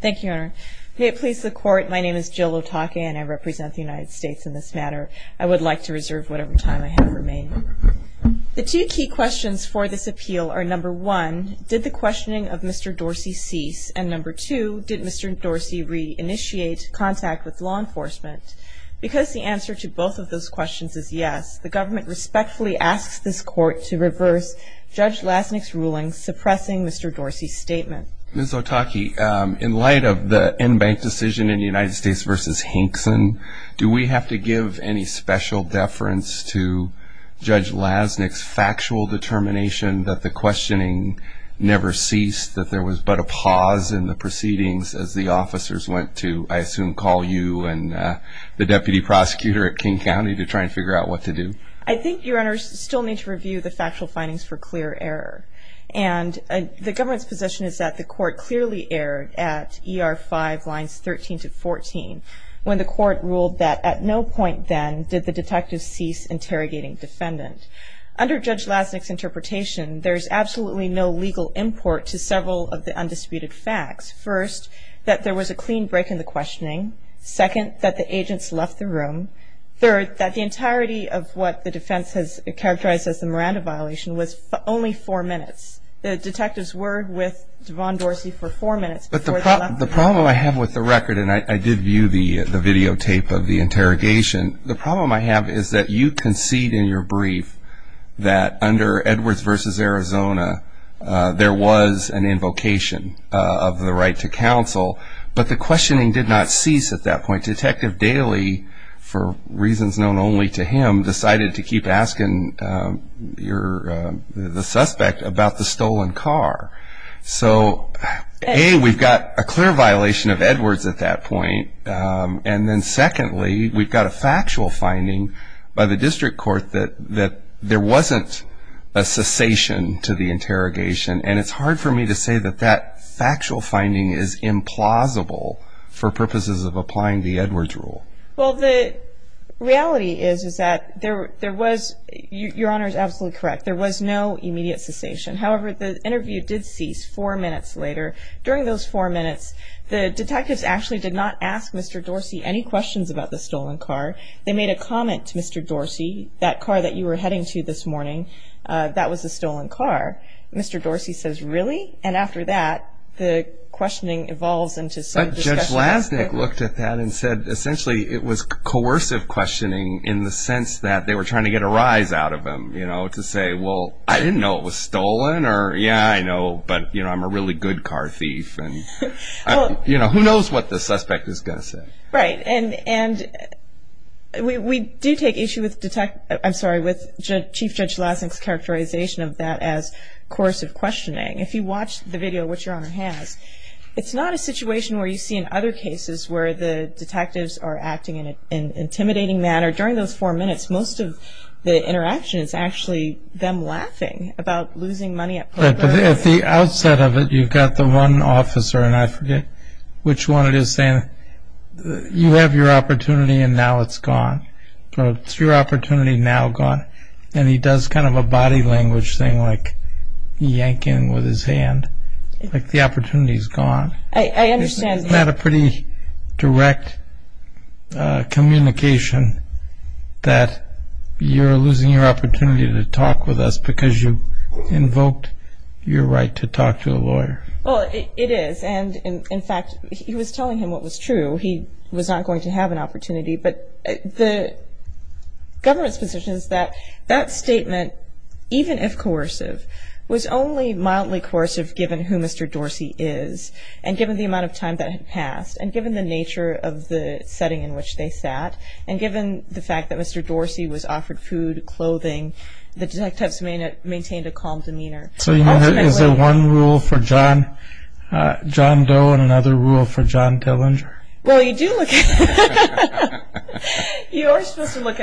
Thank you, Your Honor. May it please the Court, my name is Jill Otake and I represent the United States in this matter. I would like to reserve whatever time I have remaining. The two key questions for this appeal are, number one, did the questioning of Mr. Dorsey cease? And number two, did Mr. Dorsey re-initiate contact with law enforcement? Because the answer to both of those questions is yes, the government respectfully asks this Court to reverse Judge Lasnik's ruling suppressing Mr. Dorsey's statement. Ms. Otake, in light of the in-bank decision in the United States v. Hinkson, do we have to give any special deference to Judge Lasnik's factual determination that the questioning never ceased, that there was but a pause in the proceedings as the officers went to, I assume, call you and the deputy prosecutor at King County to try and figure out what to do? Ms. Otake I think, Your Honor, we still need to review the factual findings for clear error. And the government's position is that the Court clearly erred at E.R. 5, Lines 13-14, when the Court ruled that at no point then did the detective cease interrogating defendant. Under Judge Lasnik's interpretation, there is absolutely no legal import to several of the undisputed facts. First, that there was a clean break in the questioning. Second, that the agents left the room. Third, that the entirety of what the defense has characterized as the Miranda violation was only four minutes. The detectives were with Devon Dorsey for four minutes before they left the room. The problem I have with the record, and I did view the videotape of the interrogation, the problem I have is that you concede in your brief that under Edwards v. Arizona, there was an invocation of the right to counsel, but the questioning did not cease at that point. Detective Daly, for reasons known only to him, decided to keep asking the suspect about the stolen car. So, A, we've got a clear violation of Edwards at that point, and then secondly, we've got a factual finding by the district court that there wasn't a cessation to the interrogation, and it's hard for me to say that that factual finding is implausible for purposes of applying the Edwards rule. Well, the reality is that there was, your Honor is absolutely correct, there was no immediate cessation. However, the interview did cease four minutes later. During those four minutes, the detectives actually did not ask Mr. Dorsey any questions about the stolen car. They made a comment to Mr. Dorsey, that car that you were heading to this morning, that was a stolen car. Mr. Dorsey says, really? And after that, the questioning evolves into some discussion. Judge Lasnik looked at that and said, essentially, it was coercive questioning in the sense that they were trying to get a rise out of him, you know, to say, well, I didn't know it was stolen, or, yeah, I know, but, you know, I'm a really good car thief, and, you know, who knows what the suspect is going to say. Right, and we do take issue with detect, I'm sorry, with Chief Judge Lasnik's characterization of that as coercive questioning. If you watch the video, which your case is, where the detectives are acting in an intimidating manner, during those four minutes, most of the interaction is actually them laughing about losing money at poker. Right, but at the outset of it, you've got the one officer, and I forget which one it is, saying, you have your opportunity, and now it's gone. It's your direct communication that you're losing your opportunity to talk with us because you invoked your right to talk to a lawyer. Well, it is, and, in fact, he was telling him what was true. He was not going to have an opportunity, but the government's position is that that statement, even if coercive, was only mildly coercive given who Mr. Dorsey is, and given the amount of time that had passed, and given the nature of the setting in which they sat, and given the fact that Mr. Dorsey was offered food, clothing, the detectives maintained a calm demeanor. So, you know, is there one rule for John Doe and another rule for John Dillinger? Well, you do look at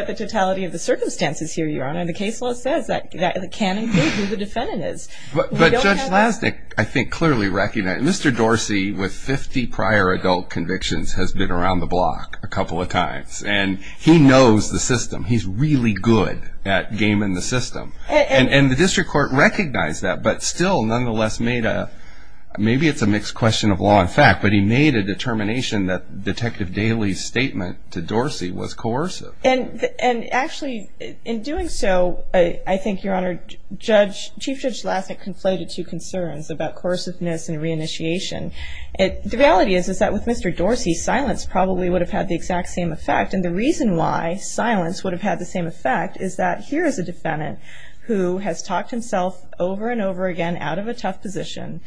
the totality of the circumstances here, Your Honor, and the case law says that it can include who the defendant is. But Judge Lasnik, I think, clearly recognized, Mr. Dorsey, with 50 prior adult convictions, has been around the block a couple of times, and he knows the system. He's really good at gaming the system, and the district court recognized that, but still, nonetheless, made a, maybe it's a mixed question of law and fact, but he made a determination that Detective Daley's statement to Dorsey was coercive. And actually, in doing so, I think, Your Honor, Chief Judge Lasnik conflated two concerns about coerciveness and reinitiation. The reality is that with Mr. Dorsey, silence probably would have had the exact same effect, and the reason why silence would have had the same effect is that here is a defendant who has talked himself over and over again out of a tough position.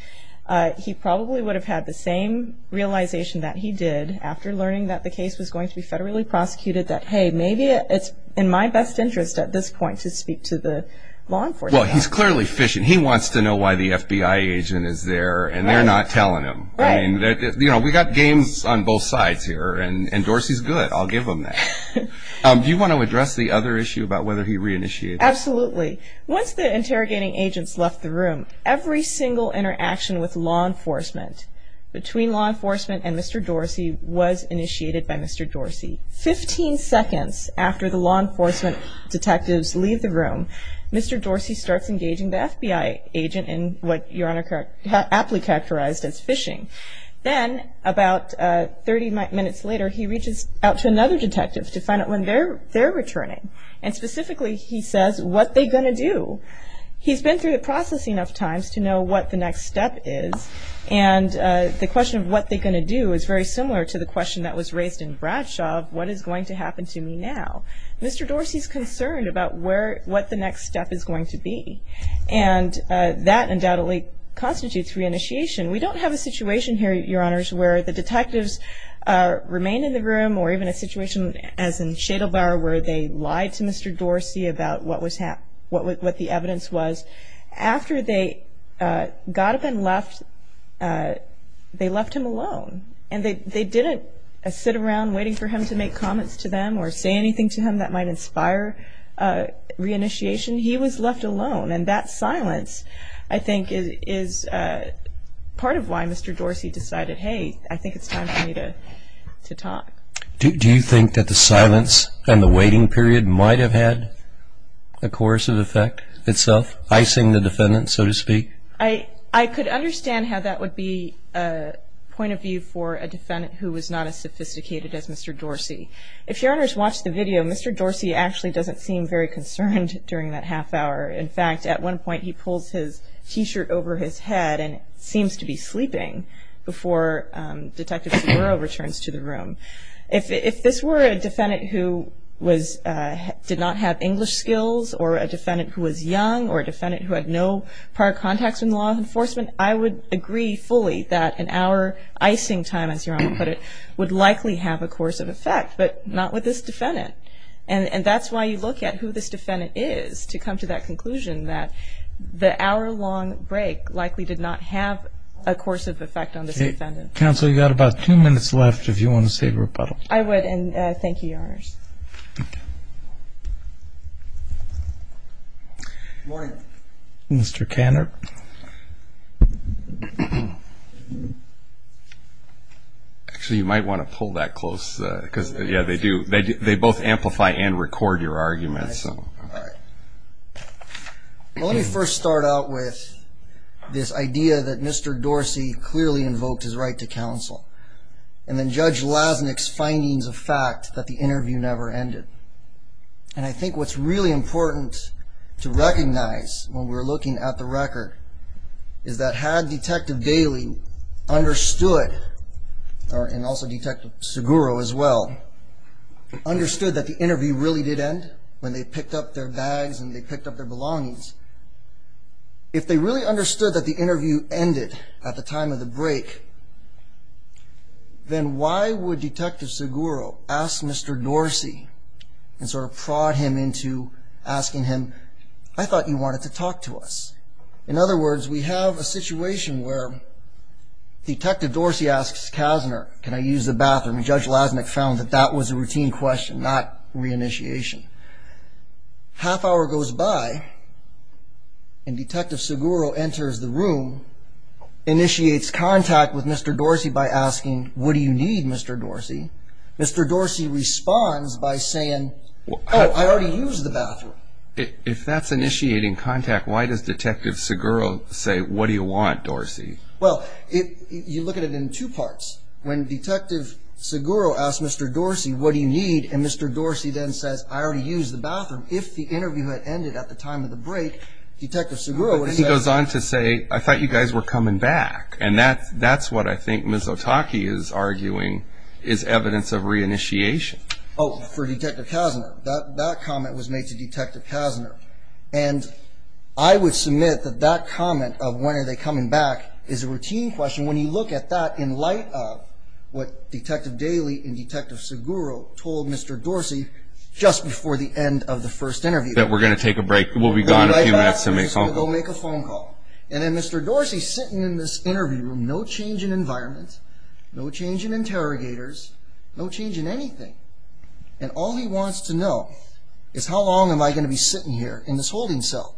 He probably would have had the same realization that he did after learning that the case was going to be federally prosecuted that, hey, maybe it's in my best interest at this point to speak to the law enforcement. Well, he's clearly fishing. He wants to know why the FBI agent is there, and they're not telling him. Right. You know, we've got games on both sides here, and Dorsey's good. I'll give him that. Do you want to address the other issue about whether he reinitiated? Absolutely. Once the interrogating agents left the room, every single interaction with law enforcement, between law enforcement and Mr. Dorsey, was initiated by Mr. Dorsey. Fifteen seconds after the law enforcement detectives leave the room, Mr. Dorsey starts engaging the FBI agent in what Your Honor aptly characterized as fishing. Then, about 30 minutes later, he reaches out to another detective to find out when they're returning. And specifically, he says, what are they going to do? He's been through the processing of times to know what the next step is. And the question of what they're going to do is very similar to the question that was raised in Bradshaw of what is going to happen to me now. Mr. Dorsey's concerned about what the next step is going to be. And that undoubtedly constitutes reinitiation. We don't have a situation here, Your Honors, where the detectives remain in the bar where they lied to Mr. Dorsey about what the evidence was. After they got up and left, they left him alone. And they didn't sit around waiting for him to make comments to them or say anything to him that might inspire reinitiation. He was left alone. And that silence, I think, is part of why Mr. Dorsey decided, hey, I think it's time for me to talk. Do you think that the silence and the waiting period might have had a coercive effect itself, icing the defendant, so to speak? I could understand how that would be a point of view for a defendant who was not as sophisticated as Mr. Dorsey. If Your Honors watched the video, Mr. Dorsey actually doesn't seem very concerned during that half hour. In fact, at one point, he pulls his T-shirt over his head and seems to be sleeping before Detective Seguro returns to the room. If this were a defendant who did not have English skills or a defendant who was young or a defendant who had no prior contacts in law enforcement, I would agree fully that an hour icing time, as Your Honor put it, would likely have a coercive effect, but not with this defendant. And that's why you look at who this defendant is to come to that conclusion that the hour-long break likely did not have a coercive effect on this defendant. Counsel, you've got about two minutes left if you want to say a rebuttal. I would, and thank you, Your Honors. Good morning. Mr. Canner. Actually, you might want to pull that close, because, yeah, they both amplify and record your arguments. All right. Well, let me first start out with this idea that Mr. Dorsey clearly invoked his right to counsel, and then Judge Lasnik's findings of fact that the interview never ended. And I think what's really important to recognize when we're looking at the record is that had Detective Bailey understood, and also Detective Seguro as well, understood that the interview really did end when they picked up their bags and they picked up their belongings, if they really understood that the interview ended at the time of the break, then why would Detective Seguro ask Mr. Dorsey and sort of prod him into asking him, I thought you wanted to talk to us? In other words, we have a situation where Detective Dorsey asks Kazner, can I use the bathroom, and Judge Lasnik found that that was a routine question, not reinitiation. Half hour goes by, and Detective Seguro enters the room, initiates contact with Mr. Dorsey by asking, what do you need, Mr. Dorsey? Mr. Dorsey responds by saying, oh, I already used the bathroom. If that's initiating contact, why does Detective Seguro say, what do you want, Dorsey? Well, you look at it in two parts. When Detective Seguro asks Mr. Dorsey, what do you need, and Mr. Dorsey then says, I already used the bathroom, if the interview had ended at the time of the break, Detective Seguro would have said... But then he goes on to say, I thought you guys were coming back. And that's what I think Ms. Otake is arguing is evidence of reinitiation. Oh, for Detective Kazner. That comment was made to Detective Kazner. And I would submit that that comment of when are they coming back is a routine question. When you look at that in light of what Detective Daley and Detective Seguro told Mr. Dorsey just before the end of the first interview... That we're going to take a break. We'll be gone a few minutes to make a phone call. And then Mr. Dorsey is sitting in this interview room, no change in environment, no change in interrogators, no change in anything. And all he wants to know is how long am I going to be sitting here in this holding cell?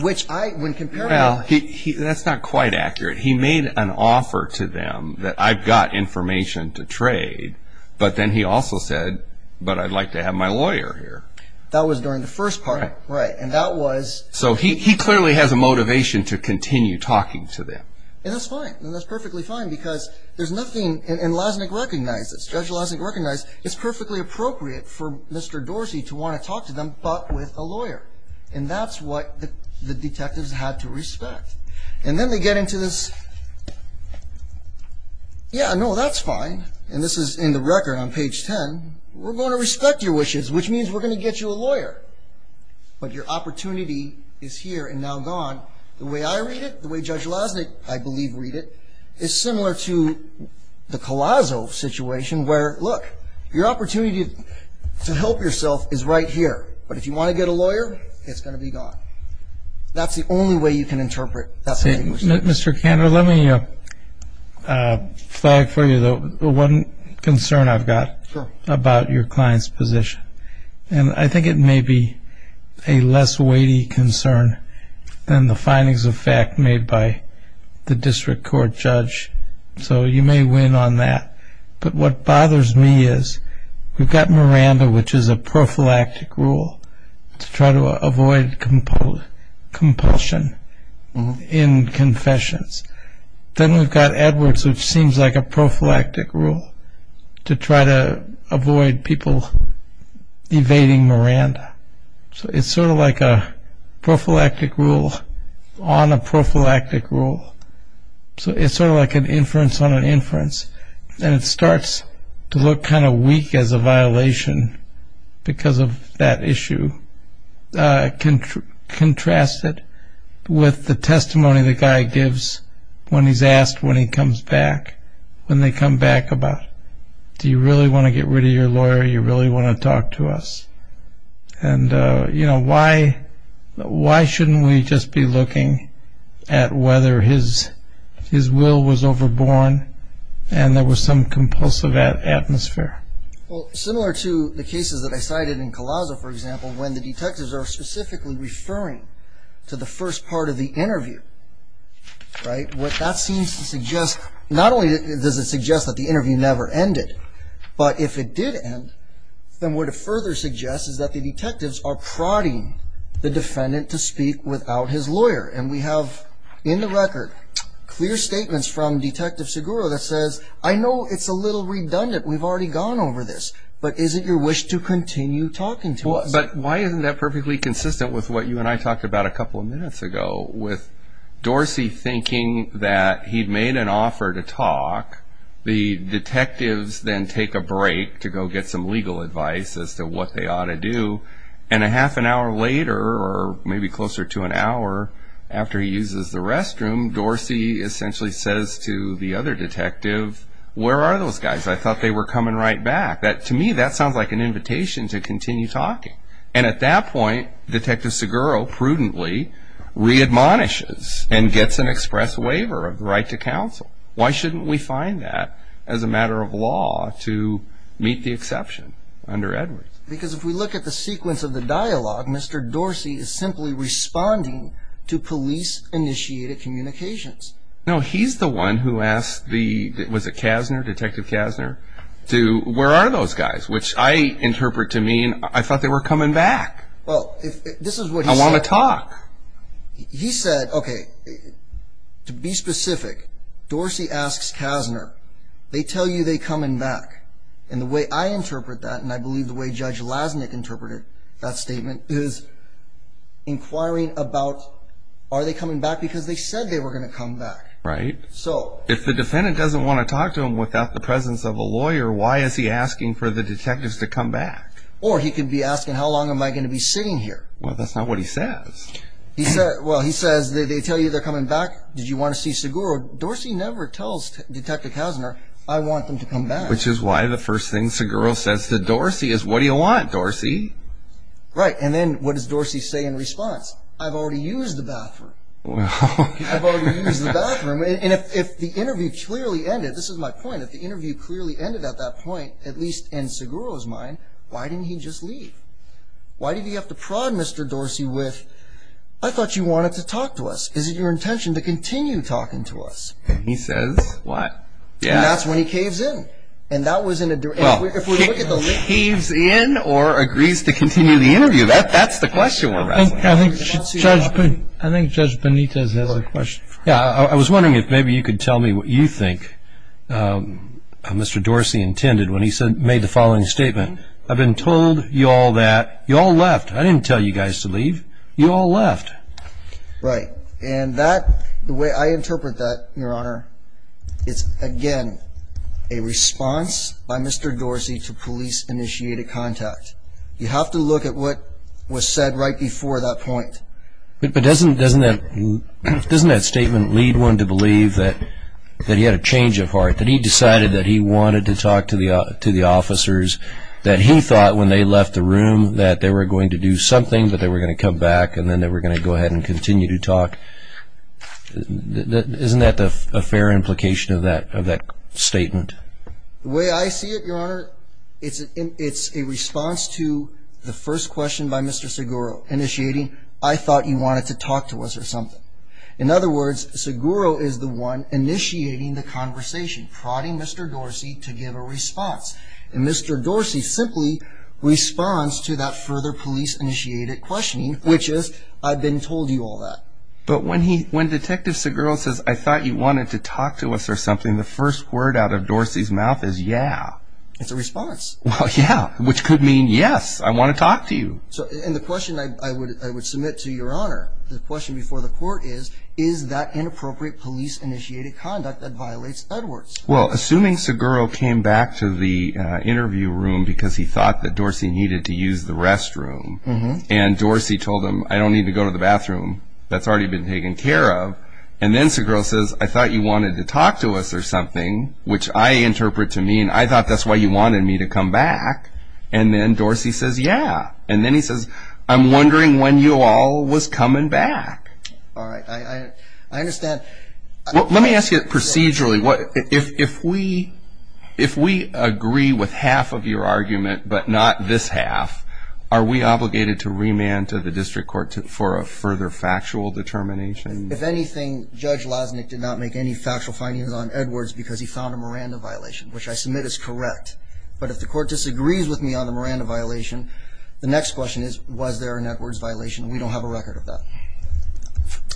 Well, that's not quite accurate. He made an offer to them that I've got information to trade, but then he also said, but I'd like to have my lawyer here. That was during the first part. Right. And that was... So he clearly has a motivation to continue talking to them. And that's fine. And that's perfectly fine because there's nothing, and Lasnik recognizes, Judge Lasnik recognized, it's perfectly appropriate for Mr. Dorsey to want to talk to them, but with a lawyer. And that's what the detectives had to respect. And then they get into this, yeah, no, that's fine. And this is in the record on page 10. We're going to respect your wishes, which means we're going to get you a lawyer, but your opportunity is here and now gone. The way I read it, the way Judge Lasnik, I believe, read it, is similar to the Collazo situation where, look, your opportunity to help yourself is right here. But if you want to get a lawyer, it's going to be gone. That's the only way you can interpret that. Mr. Kander, let me flag for you the one concern I've got about your client's position. And I think it may be a less weighty concern than the findings of fact made by the district court judge, so you may win on that. But what bothers me is we've got Miranda, which is a prophylactic rule to try to avoid compulsion in confessions. Then we've got Edwards, which seems like a prophylactic rule to try to avoid people evading Miranda. So it's sort of like a prophylactic rule on a prophylactic rule. So it's sort of like an inference on an inference. And it starts to look kind of weak as a violation because of that issue, contrasted with the testimony the guy gives when he's asked when he comes back, when they come back about, do you really want to get rid of your lawyer? You really want to talk to us? And why shouldn't we just be looking at whether his will was overborn and there was some compulsive atmosphere? Well, similar to the cases that I cited in Collazo, for example, when the detectives are specifically referring to the first part of the interview, right? What that seems to suggest, not only does it suggest that the interview never ended, but if it did end, then what it further suggests is that the detectives are prodding the defendant to speak without his lawyer. And we have in the record clear statements from Detective Seguro that says, I know it's a little redundant, we've already gone over this, but is it your wish to continue talking to us? But why isn't that perfectly consistent with what you and I talked about a couple of minutes ago, with Dorsey thinking that he'd made an offer to talk, the detectives then take a break to go get some legal advice as to what they ought to do, and a half an hour later, or maybe closer to an hour after he uses the restroom, Dorsey essentially says to the other detective, where are those guys? I thought they were coming right back. To me, that sounds like an invitation to continue talking. And at that point, Detective Seguro prudently readmonishes and gets an express waiver of the right to counsel. Why shouldn't we find that as a matter of law to meet the exception under Edwards? Because if we look at the sequence of the dialogue, Mr. Dorsey is simply responding to police-initiated communications. No, he's the one who asked the, was it Kasner, Detective Kasner, to, where are those guys? Which I interpret to mean, I thought they were coming back. I want to talk. He said, okay, to be specific, Dorsey asks Kasner, they tell you they're coming back. And the way I interpret that, and I believe the way Judge Lasnik interpreted that statement, is inquiring about, are they coming back? Because they said they were going to come back. Right. If the defendant doesn't want to talk to him without the presence of a lawyer, why is he asking for the detectives to come back? Or he could be asking, how long am I going to be sitting here? Well, that's not what he says. Well, he says, they tell you they're coming back, did you want to see Seguro? Dorsey never tells Detective Kasner, I want them to come back. Which is why the first thing Seguro says to Dorsey is, what do you want, Dorsey? Right, and then what does Dorsey say in response? I've already used the bathroom. I've already used the bathroom. And if the interview clearly ended, this is my point, if the interview clearly ended at that point, at least in Seguro's mind, why didn't he just leave? Why did he have to prod Mr. Dorsey with, I thought you wanted to talk to us, is it your intention to continue talking to us? And he says, what? And that's when he caves in. Well, he caves in or agrees to continue the interview, that's the question we're asking. I think Judge Benitez has a question. Yeah, I was wondering if maybe you could tell me what you think Mr. Dorsey intended when he made the following statement. I've been told you all that, you all left, I didn't tell you guys to leave, you all left. Right, and that, the way I interpret that, Your Honor, it's again a response by Mr. Dorsey to police initiated contact. You have to look at what was said right before that point. But doesn't that statement lead one to believe that he had a change of heart, that he decided that he wanted to talk to the officers, that he thought when they left the room that they were going to do something, that they were going to come back and then they were going to go ahead and continue to talk? Isn't that a fair implication of that statement? The way I see it, Your Honor, it's a response to the first question by Mr. Seguro, initiating, I thought you wanted to talk to us or something. In other words, Seguro is the one initiating the conversation, prodding Mr. Dorsey to give a response. And Mr. Dorsey simply responds to that further police initiated questioning, which is, I've been told you all that. But when Detective Seguro says, I thought you wanted to talk to us or something, the first word out of Dorsey's mouth is, yeah. It's a response. Well, yeah, which could mean, yes, I want to talk to you. And the question I would submit to Your Honor, the question before the court is, is that inappropriate police initiated conduct that violates Edwards? Well, assuming Seguro came back to the interview room because he thought that Dorsey needed to use the restroom and Dorsey told him, I don't need to go to the bathroom, that's already been taken care of. And then Seguro says, I thought you wanted to talk to us or something, which I interpret to mean, I thought that's why you wanted me to come back. And then Dorsey says, yeah. And then he says, I'm wondering when you all was coming back. All right. I understand. Let me ask you procedurally, if we agree with half of your argument but not this half, are we obligated to remand to the district court for a further factual determination? If anything, Judge Lasnik did not make any factual findings on Edwards because he found a Miranda violation, which I submit is correct. But if the court disagrees with me on the Miranda violation, the next question is, was there an Edwards violation, and we don't have a record of that.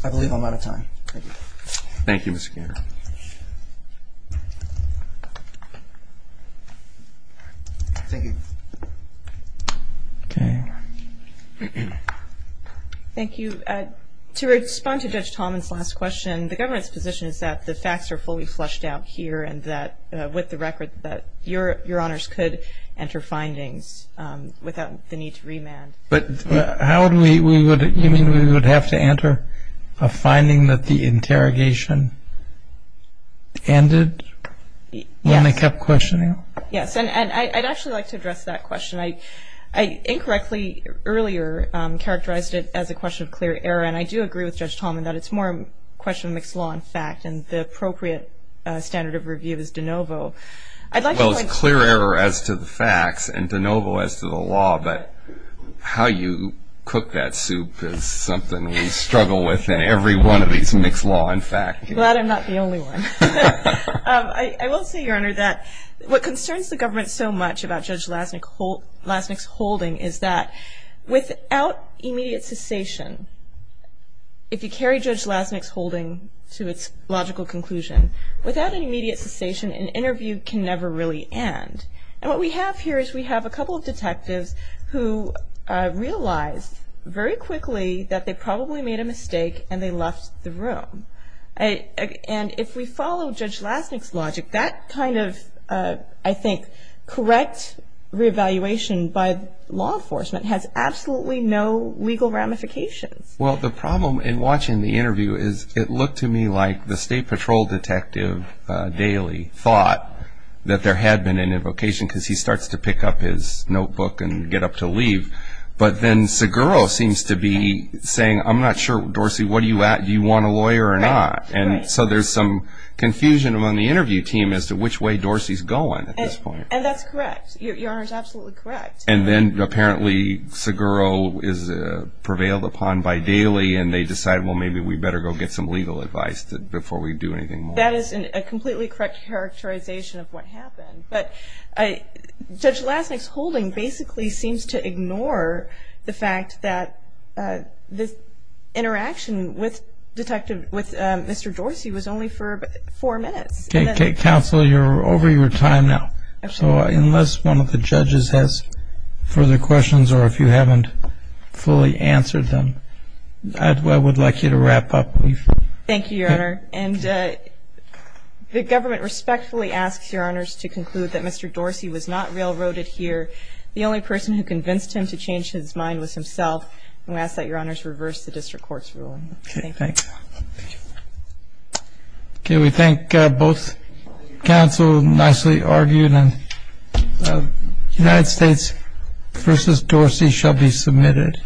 I believe I'm out of time. Thank you. Thank you, Mr. Garner. Thank you. Okay. Thank you. To respond to Judge Tallman's last question, the government's position is that the facts are fully flushed out here and that, with the record, that your honors could enter findings without the need to remand. You mean we would have to enter a finding that the interrogation ended when I kept questioning? Yes. And I'd actually like to address that question. I incorrectly earlier characterized it as a question of clear error, and I do agree with Judge Tallman that it's more a question of mixed law and fact, and the appropriate standard of review is de novo. Well, it's clear error as to the facts and de novo as to the law, but how you cook that soup is something we struggle with in every one of these mixed law and fact. I'm glad I'm not the only one. I will say, Your Honor, that what concerns the government so much about Judge Lasnik's holding is that, without immediate cessation, if you carry Judge Lasnik's holding to its logical conclusion, without an immediate cessation, an interview can never really end. And what we have here is we have a couple of detectives who realized very quickly that they probably made a mistake and they left the room. And if we follow Judge Lasnik's logic, that kind of, I think, correct reevaluation by law enforcement has absolutely no legal ramifications. Well, the problem in watching the interview is it looked to me like the State Patrol detective daily thought that there had been an invocation because he starts to pick up his notebook and get up to leave. But then Seguro seems to be saying, I'm not sure, Dorsey, what are you at? Do you want a lawyer or not? And so there's some confusion among the interview team as to which way Dorsey's going at this point. And that's correct. Your Honor is absolutely correct. And then apparently Seguro is prevailed upon by daily and they decide, well, maybe we better go get some legal advice before we do anything more. Well, that is a completely correct characterization of what happened. But Judge Lasnik's holding basically seems to ignore the fact that this interaction with Detective, with Mr. Dorsey was only for four minutes. Counsel, you're over your time now. So unless one of the judges has further questions or if you haven't fully answered them, Thank you, Your Honor. And the government respectfully asks Your Honors to conclude that Mr. Dorsey was not railroaded here. The only person who convinced him to change his mind was himself. And we ask that Your Honors reverse the district court's ruling. Thank you. Thank you. Okay, we thank both counsel, nicely argued. And United States v. Dorsey shall be submitted.